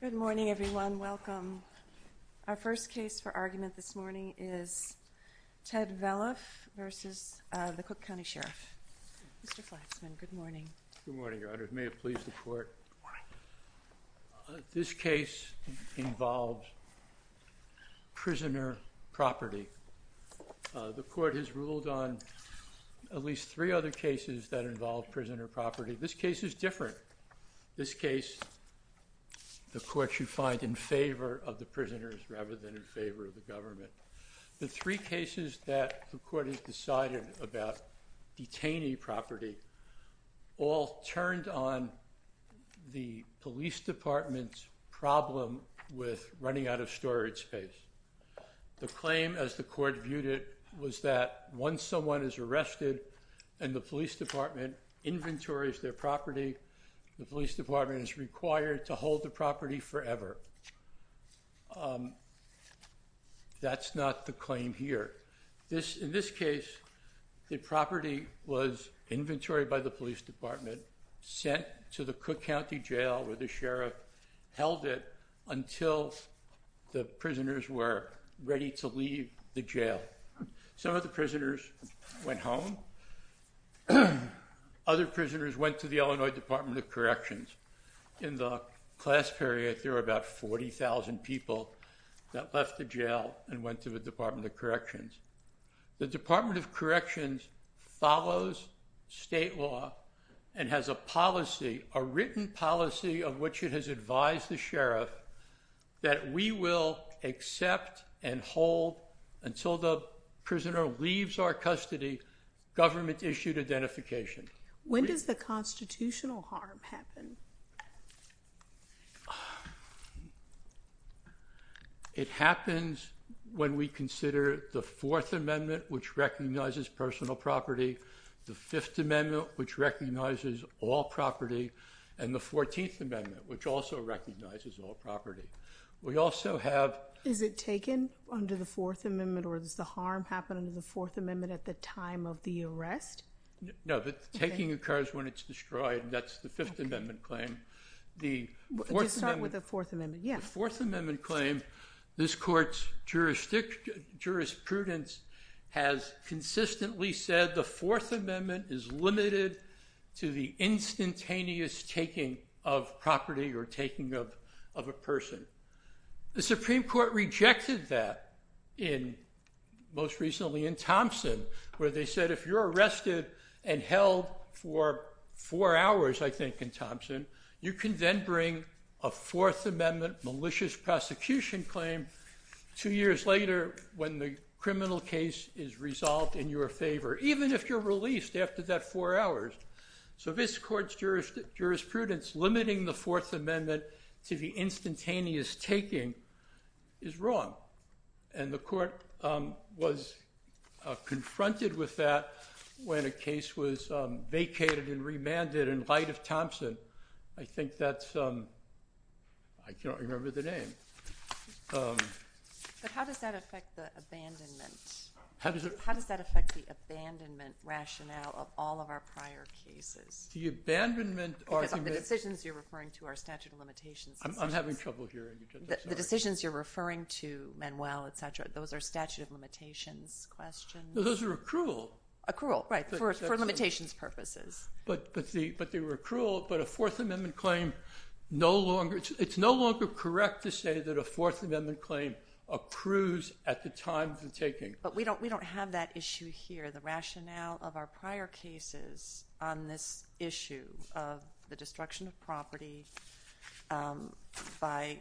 Good morning, everyone. Welcome. Our first case for argument this morning is Ted Velleff v. Sheriff of Cook County. Mr. Flaxman, good morning. Good morning, Your Honor. May it please the Court. This case involves prisoner property. The Court has ruled on at least three other cases that involve prisoner property. This case is different. This case, the Court should find in favor of the prisoners rather than in favor of the government. The three cases that the Court has decided about detainee property all turned on the police department's problem with running out of storage space. The claim, as the Court viewed it, was that once someone is arrested and the police department inventories their property, the police department is required to hold the property forever. That's not the claim here. In this case, the property was inventoried by the police department, sent to the Cook County Jail where the sheriff it until the prisoners were ready to leave the jail. Some of the prisoners went home. Other prisoners went to the Illinois Department of Corrections. In the class period, there were about 40,000 people that left the jail and went to the Department of Corrections. The Department of Corrections follows state law and has a policy, a written policy of which it has advised the sheriff that we will accept and hold until the prisoner leaves our custody government-issued identification. When does the constitutional harm happen? It happens when we consider the Fourth Amendment, which recognizes personal property, the Fifth Amendment, and the Fourteenth Amendment, which also recognizes all property. Is it taken under the Fourth Amendment or does the harm happen under the Fourth Amendment at the time of the arrest? No, the taking occurs when it's destroyed. That's the Fifth Amendment claim. Just start with the Fourth Amendment. The Fourth Amendment claim, this Court's jurisprudence has consistently said the Fourth Amendment is limited to the instantaneous taking of property or taking of a person. The Supreme Court rejected that most recently in Thompson, where they said if you're arrested and held for four hours, I think, in Thompson, you can then bring a Fourth Amendment malicious prosecution claim two years later when the criminal case is resolved in your favor, even if you're released after that four hours. So this Court's jurisprudence limiting the Fourth Amendment to the instantaneous taking is wrong. And the Court was confronted with that when a case was vacated and remanded in light of Thompson. I think that's, I don't remember the name. But how does that affect the abandonment? How does that affect the abandonment rationale of all of our prior cases? The abandonment argument... Because the decisions you're referring to are statute of limitations decisions. I'm having trouble hearing you. The decisions you're referring to, Manuel, et cetera, those are statute of limitations questions? No, those are accrual. Accrual, right, for limitations purposes. But they were accrual, but a Fourth Amendment claim, it's no longer correct to say that a Fourth Amendment claim accrues at the time of the taking. But we don't have that issue here. The rationale of our prior cases on this issue of the destruction of property by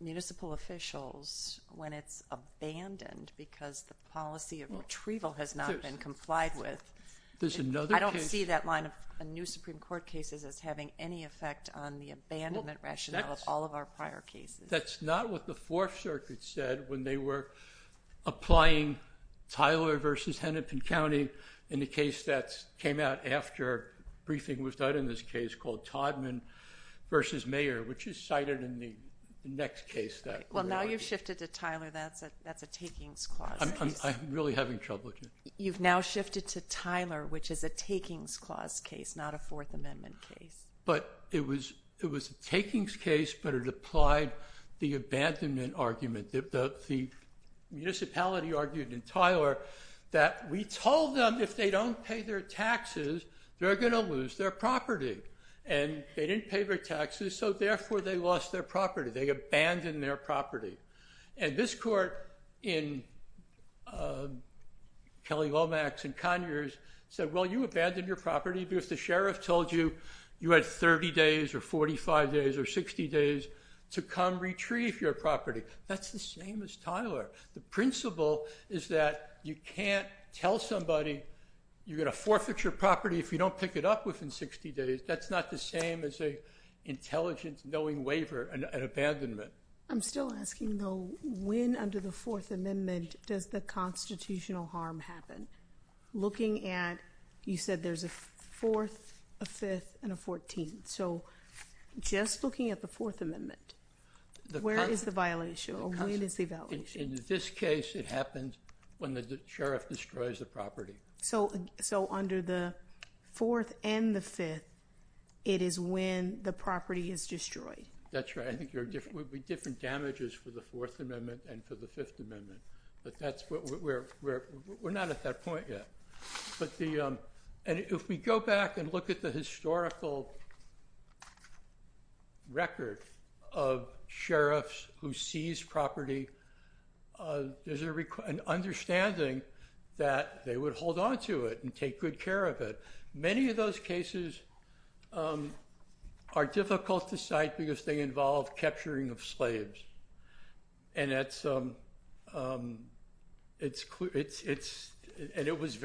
municipal officials when it's abandoned because the policy of retrieval has not been complied with. There's another case... I don't see that line of new Supreme Court cases as having any effect on the abandonment rationale of all of our prior cases. That's not what the Fourth Circuit said when they were applying Tyler v. Hennepin County in the case that came out after briefing was done in this case called Todman v. Mayer, which is cited in the next case that we're working on. Well, now you've shifted to Tyler. That's a takings clause. I'm really having trouble with you. You've now shifted to Tyler, which is a takings clause case, not a Fourth Amendment case. But it was a takings case, but it applied the abandonment argument. The municipality argued in Tyler that we told them if they don't pay their taxes, they're going to lose their property. And they didn't pay their taxes, so therefore they lost their property. They abandoned their property. And this court in Kelly-Lomax and Conyers said, well, you abandoned your property because the sheriff told you you had 30 days or 45 days or 60 days to come retrieve your property. That's the same as Tyler. The principle is that you can't tell somebody you're going to forfeit your property if you don't pick it up within 60 days. That's not the same as an intelligence-knowing waiver and abandonment. I'm still asking, though, when under the Fourth Amendment does the constitutional harm happen? Looking at, you said there's a fourth, a fifth, and a fourteenth. So just looking at the Fourth Amendment, where is the violation or when is the violation? In this case, it happens when the sheriff destroys the property. So under the fourth and the fifth, it is when the property is destroyed. That's right. I think there would be different damages for the Fourth Amendment and for the Fifth Amendment. But we're not at that point yet. If we go back and look at the historical record of sheriffs who seize property, there's an understanding that they would hold on to it and take good care of it. Many of those cases are difficult to cite because they involve capturing of slaves. And it was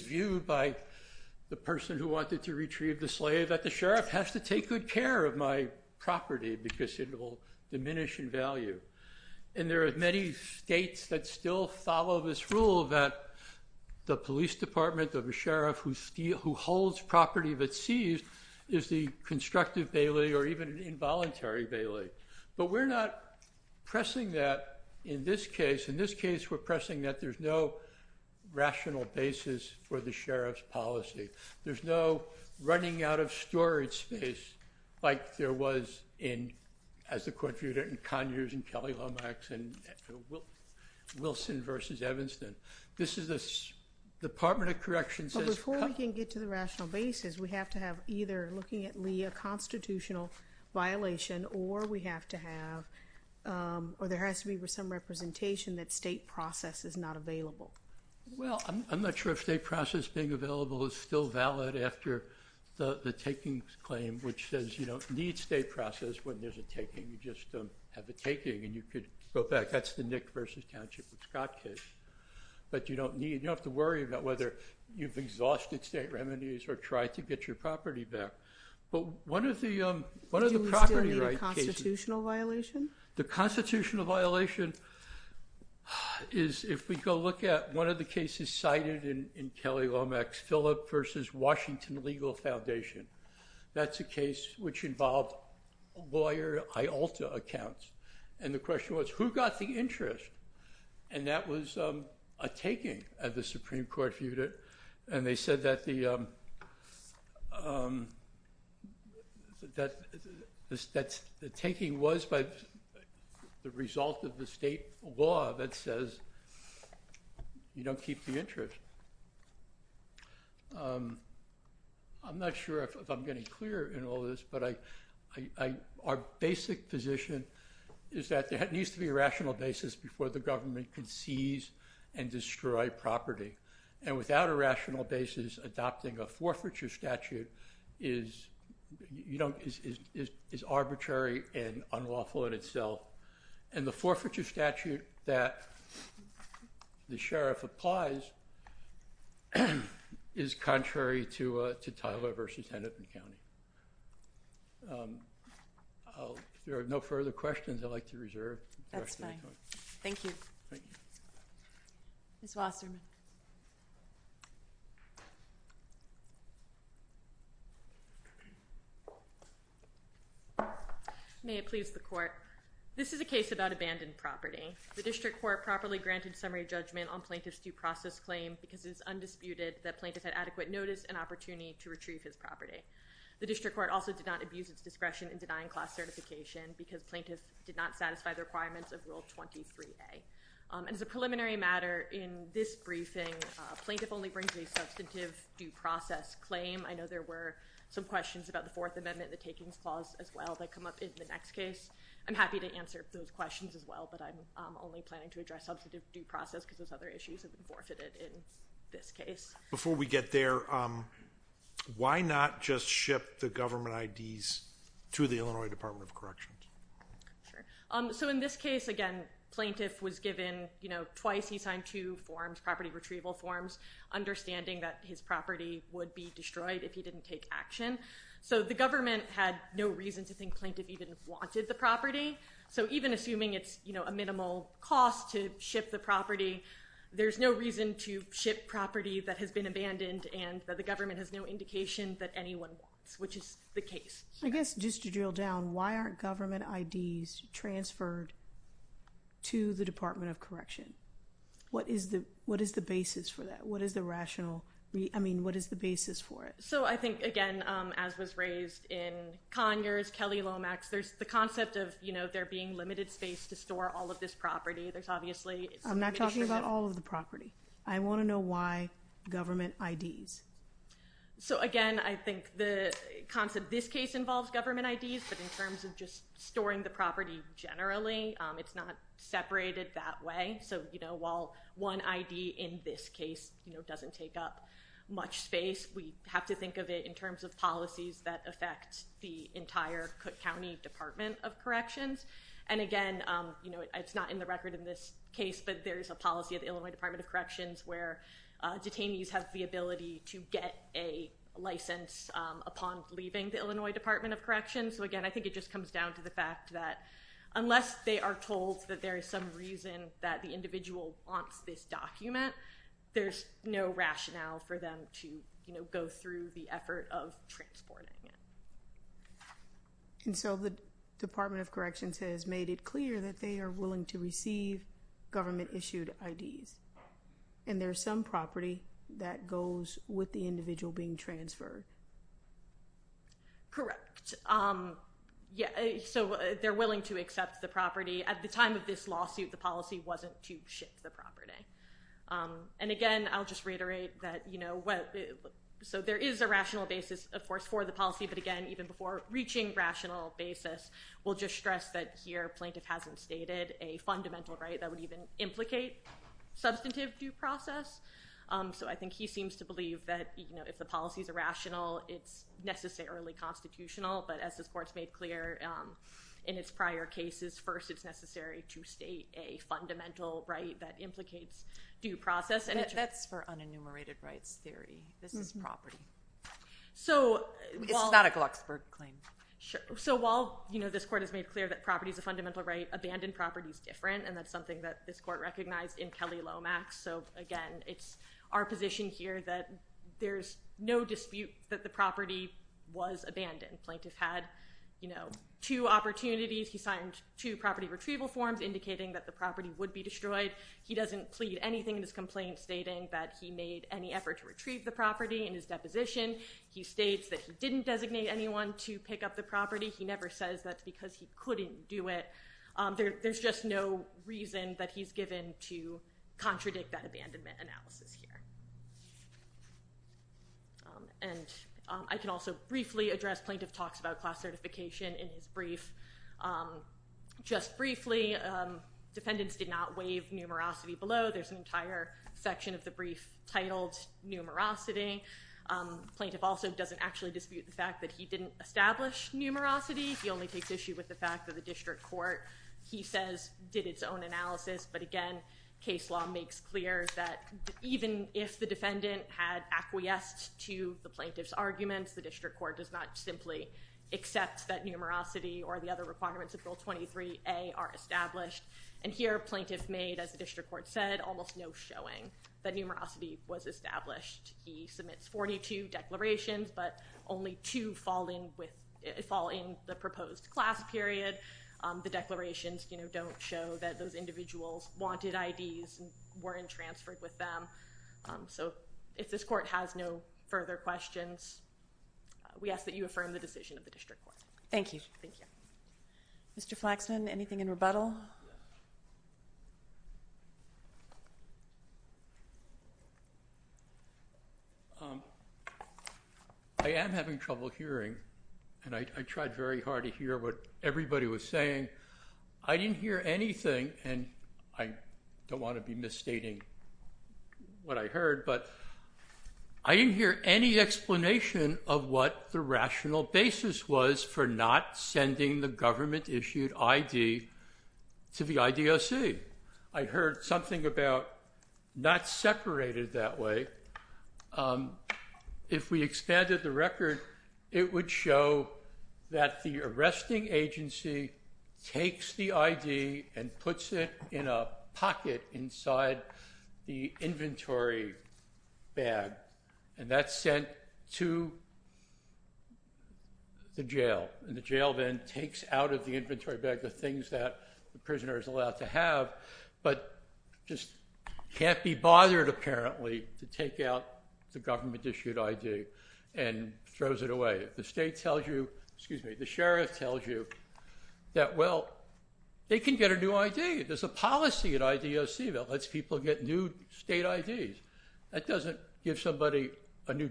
viewed by the person who wanted to retrieve the slave, that the sheriff has to take good care of my property because it will diminish in value. And there are many states that still follow this rule that the police department of a sheriff who holds property that's seized is the constructive bailey or even an involuntary bailey. But we're not pressing that in this case. In this case, we're pressing that there's no rational basis for the sheriff's policy. There's no running out of storage space like there was in, as the court viewed it, in Conyers and Kelly-Lomax and Wilson v. Evanston. This is the Department of Corrections. But before we can get to the rational basis, we have to have either looking at Lee a constitutional violation or we have to have or there has to be some representation that state process is not available. Well, I'm not sure if state process being available is still valid after the takings claim, which says you don't need state process when there's a taking. You just have a taking and you could go back. That's the Nick v. Township v. Scott case. But you don't need it. You don't have to worry about whether you've exhausted state remedies or tried to get your property back. But one of the property rights cases— Do we still need a constitutional violation? The constitutional violation is if we go look at one of the cases cited in Kelly-Lomax, Philip v. Washington Legal Foundation. That's a case which involved lawyer Iolta accounts. And the question was, who got the interest? And that was a taking, as the Supreme Court viewed it. And they said that the taking was by the result of the state law that says you don't keep the interest. I'm not sure if I'm getting clear in all this, but our basic position is that there needs to be a rational basis before the government can seize and destroy property. And without a rational basis, adopting a forfeiture statute is arbitrary and unlawful in itself. And the forfeiture statute that the sheriff applies is contrary to Tyler v. Hennepin County. If there are no further questions, I'd like to reserve the rest of the time. That's fine. Thank you. Ms. Wasserman. May it please the court. This is a case about abandoned property. The district court properly granted summary judgment on plaintiff's due process claim because it is undisputed that plaintiff had adequate notice and opportunity to retrieve his property. The district court also did not abuse its discretion in denying class certification because plaintiff did not satisfy the requirements of Rule 23A. And as a preliminary matter, in this briefing, plaintiff only brings a substantive due process claim. I know there were some questions about the Fourth Amendment, the takings clause as well, that come up in the next case. I'm happy to answer those questions as well, but I'm only planning to address substantive due process because those other issues have been forfeited in this case. Before we get there, why not just ship the government IDs to the Illinois Department of Corrections? So in this case, again, plaintiff was given twice. He signed two forms, property retrieval forms, understanding that his property would be destroyed if he didn't take action. So the government had no reason to think plaintiff even wanted the property. So even assuming it's a minimal cost to ship the property, there's no reason to ship property that has been abandoned and that the government has no indication that anyone wants, which is the case. I guess just to drill down, why aren't government IDs transferred to the Department of Correction? What is the basis for that? What is the rational, I mean, what is the basis for it? So I think, again, as was raised in Conyers, Kelly-Lomax, there's the concept of, you know, there being limited space to store all of this property. I'm not talking about all of the property. I want to know why government IDs. So, again, I think the concept of this case involves government IDs, but in terms of just storing the property generally, it's not separated that way. So, you know, while one ID in this case, you know, doesn't take up much space, we have to think of it in terms of policies that affect the entire Cook County Department of Corrections. And, again, you know, it's not in the record in this case, but there's a policy at the Illinois Department of Corrections where detainees have the ability to get a license upon leaving the Illinois Department of Corrections. So, again, I think it just comes down to the fact that unless they are told that there is some reason that the individual wants this document, there's no rationale for them to, you know, go through the effort of transporting it. And so the Department of Corrections has made it clear that they are willing to receive government-issued IDs, and there's some property that goes with the individual being transferred. Correct. Yeah, so they're willing to accept the property. At the time of this lawsuit, the policy wasn't to shift the property. And, again, I'll just reiterate that, you know, so there is a rational basis, of course, for the policy, but, again, even before reaching rational basis, we'll just stress that, here, plaintiff hasn't stated a fundamental right that would even implicate substantive due process. So I think he seems to believe that, you know, if the policy is irrational, it's necessarily constitutional. But as this Court's made clear in its prior cases, first it's necessary to state a fundamental right that implicates due process. That's for unenumerated rights theory. This is property. This is not a Glucksberg claim. So while, you know, this Court has made clear that property is a fundamental right, abandoned property is different, and that's something that this Court recognized in Kelly-Lomax. So, again, it's our position here that there's no dispute that the property was abandoned. Plaintiff had, you know, two opportunities. He signed two property retrieval forms indicating that the property would be destroyed. He doesn't plead anything in his complaint stating that he made any effort to retrieve the property. In his deposition, he states that he didn't designate anyone to pick up the property. He never says that's because he couldn't do it. There's just no reason that he's given to contradict that abandonment analysis here. And I can also briefly address plaintiff talks about class certification in his brief. Just briefly, defendants did not waive numerosity below. There's an entire section of the brief titled numerosity. Plaintiff also doesn't actually dispute the fact that he didn't establish numerosity. He only takes issue with the fact that the district court, he says, did its own analysis. But, again, case law makes clear that even if the defendant had acquiesced to the plaintiff's arguments, the district court does not simply accept that numerosity or the other requirements of Bill 23A are established. And here plaintiff made, as the district court said, almost no showing that numerosity was established. He submits 42 declarations, but only two fall in the proposed class period. The declarations don't show that those individuals wanted IDs and weren't transferred with them. So if this court has no further questions, we ask that you affirm the decision of the district court. Thank you. Mr. Flaxman, anything in rebuttal? I am having trouble hearing, and I tried very hard to hear what everybody was saying. I didn't hear anything, and I don't want to be misstating what I heard, but I didn't hear any explanation of what the rational basis was for not sending the government-issued ID to the IDOC. I heard something about not separated that way. If we expanded the record, it would show that the arresting agency takes the ID and puts it in a pocket inside the inventory bag, and that's sent to the jail, and the jail then takes out of the inventory bag the things that the prisoner is allowed to have, but just can't be bothered, apparently, to take out the government-issued ID and throws it away. If the state tells you—excuse me, the sheriff tells you that, well, they can get a new ID. There's a policy at IDOC that lets people get new state IDs. That doesn't give somebody a new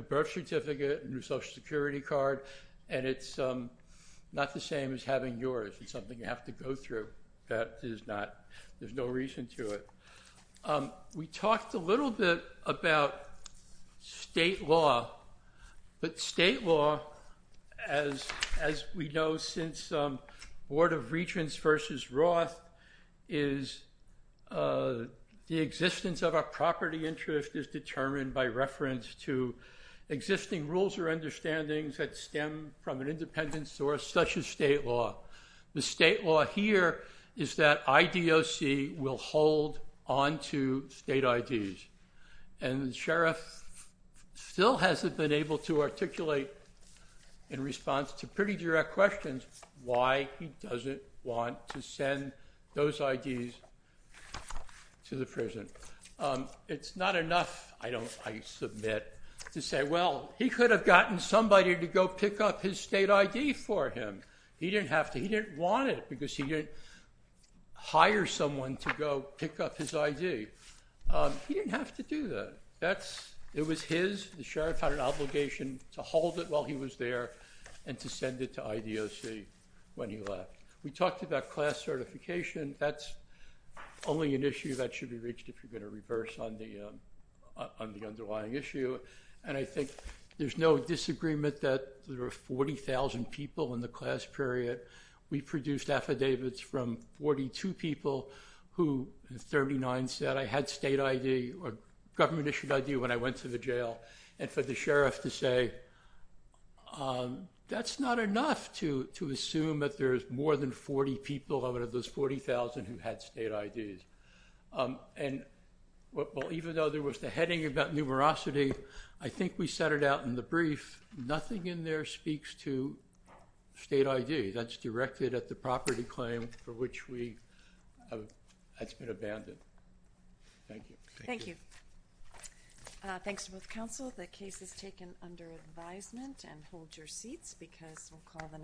birth certificate, a new Social Security card, and it's not the same as having yours. It's something you have to go through. That is not—there's no reason to it. We talked a little bit about state law, but state law, as we know since Board of Regents versus Roth, is the existence of a property interest is determined by reference to existing rules or understandings that stem from an independent source such as state law. The state law here is that IDOC will hold onto state IDs, and the sheriff still hasn't been able to articulate in response to pretty direct questions why he doesn't want to send those IDs to the prison. It's not enough, I submit, to say, well, he could have gotten somebody to go pick up his state ID for him. He didn't have to. He didn't want it because he didn't hire someone to go pick up his ID. He didn't have to do that. It was his. The sheriff had an obligation to hold it while he was there and to send it to IDOC when he left. We talked about class certification. That's only an issue that should be reached if you're going to reverse on the underlying issue, and I think there's no disagreement that there are 40,000 people in the class period. We produced affidavits from 42 people who, and 39 said, I had state ID or government-issued ID when I went to the jail, and for the sheriff to say that's not enough to assume that there's more than 40 people out of those 40,000 who had state IDs. And, well, even though there was the heading about numerosity, I think we set it out in the brief. Nothing in there speaks to state ID. That's directed at the property claim for which we, that's been abandoned. Thank you. Thank you. Thanks to both counsel. The case is taken under advisement and hold your seats because we'll call the.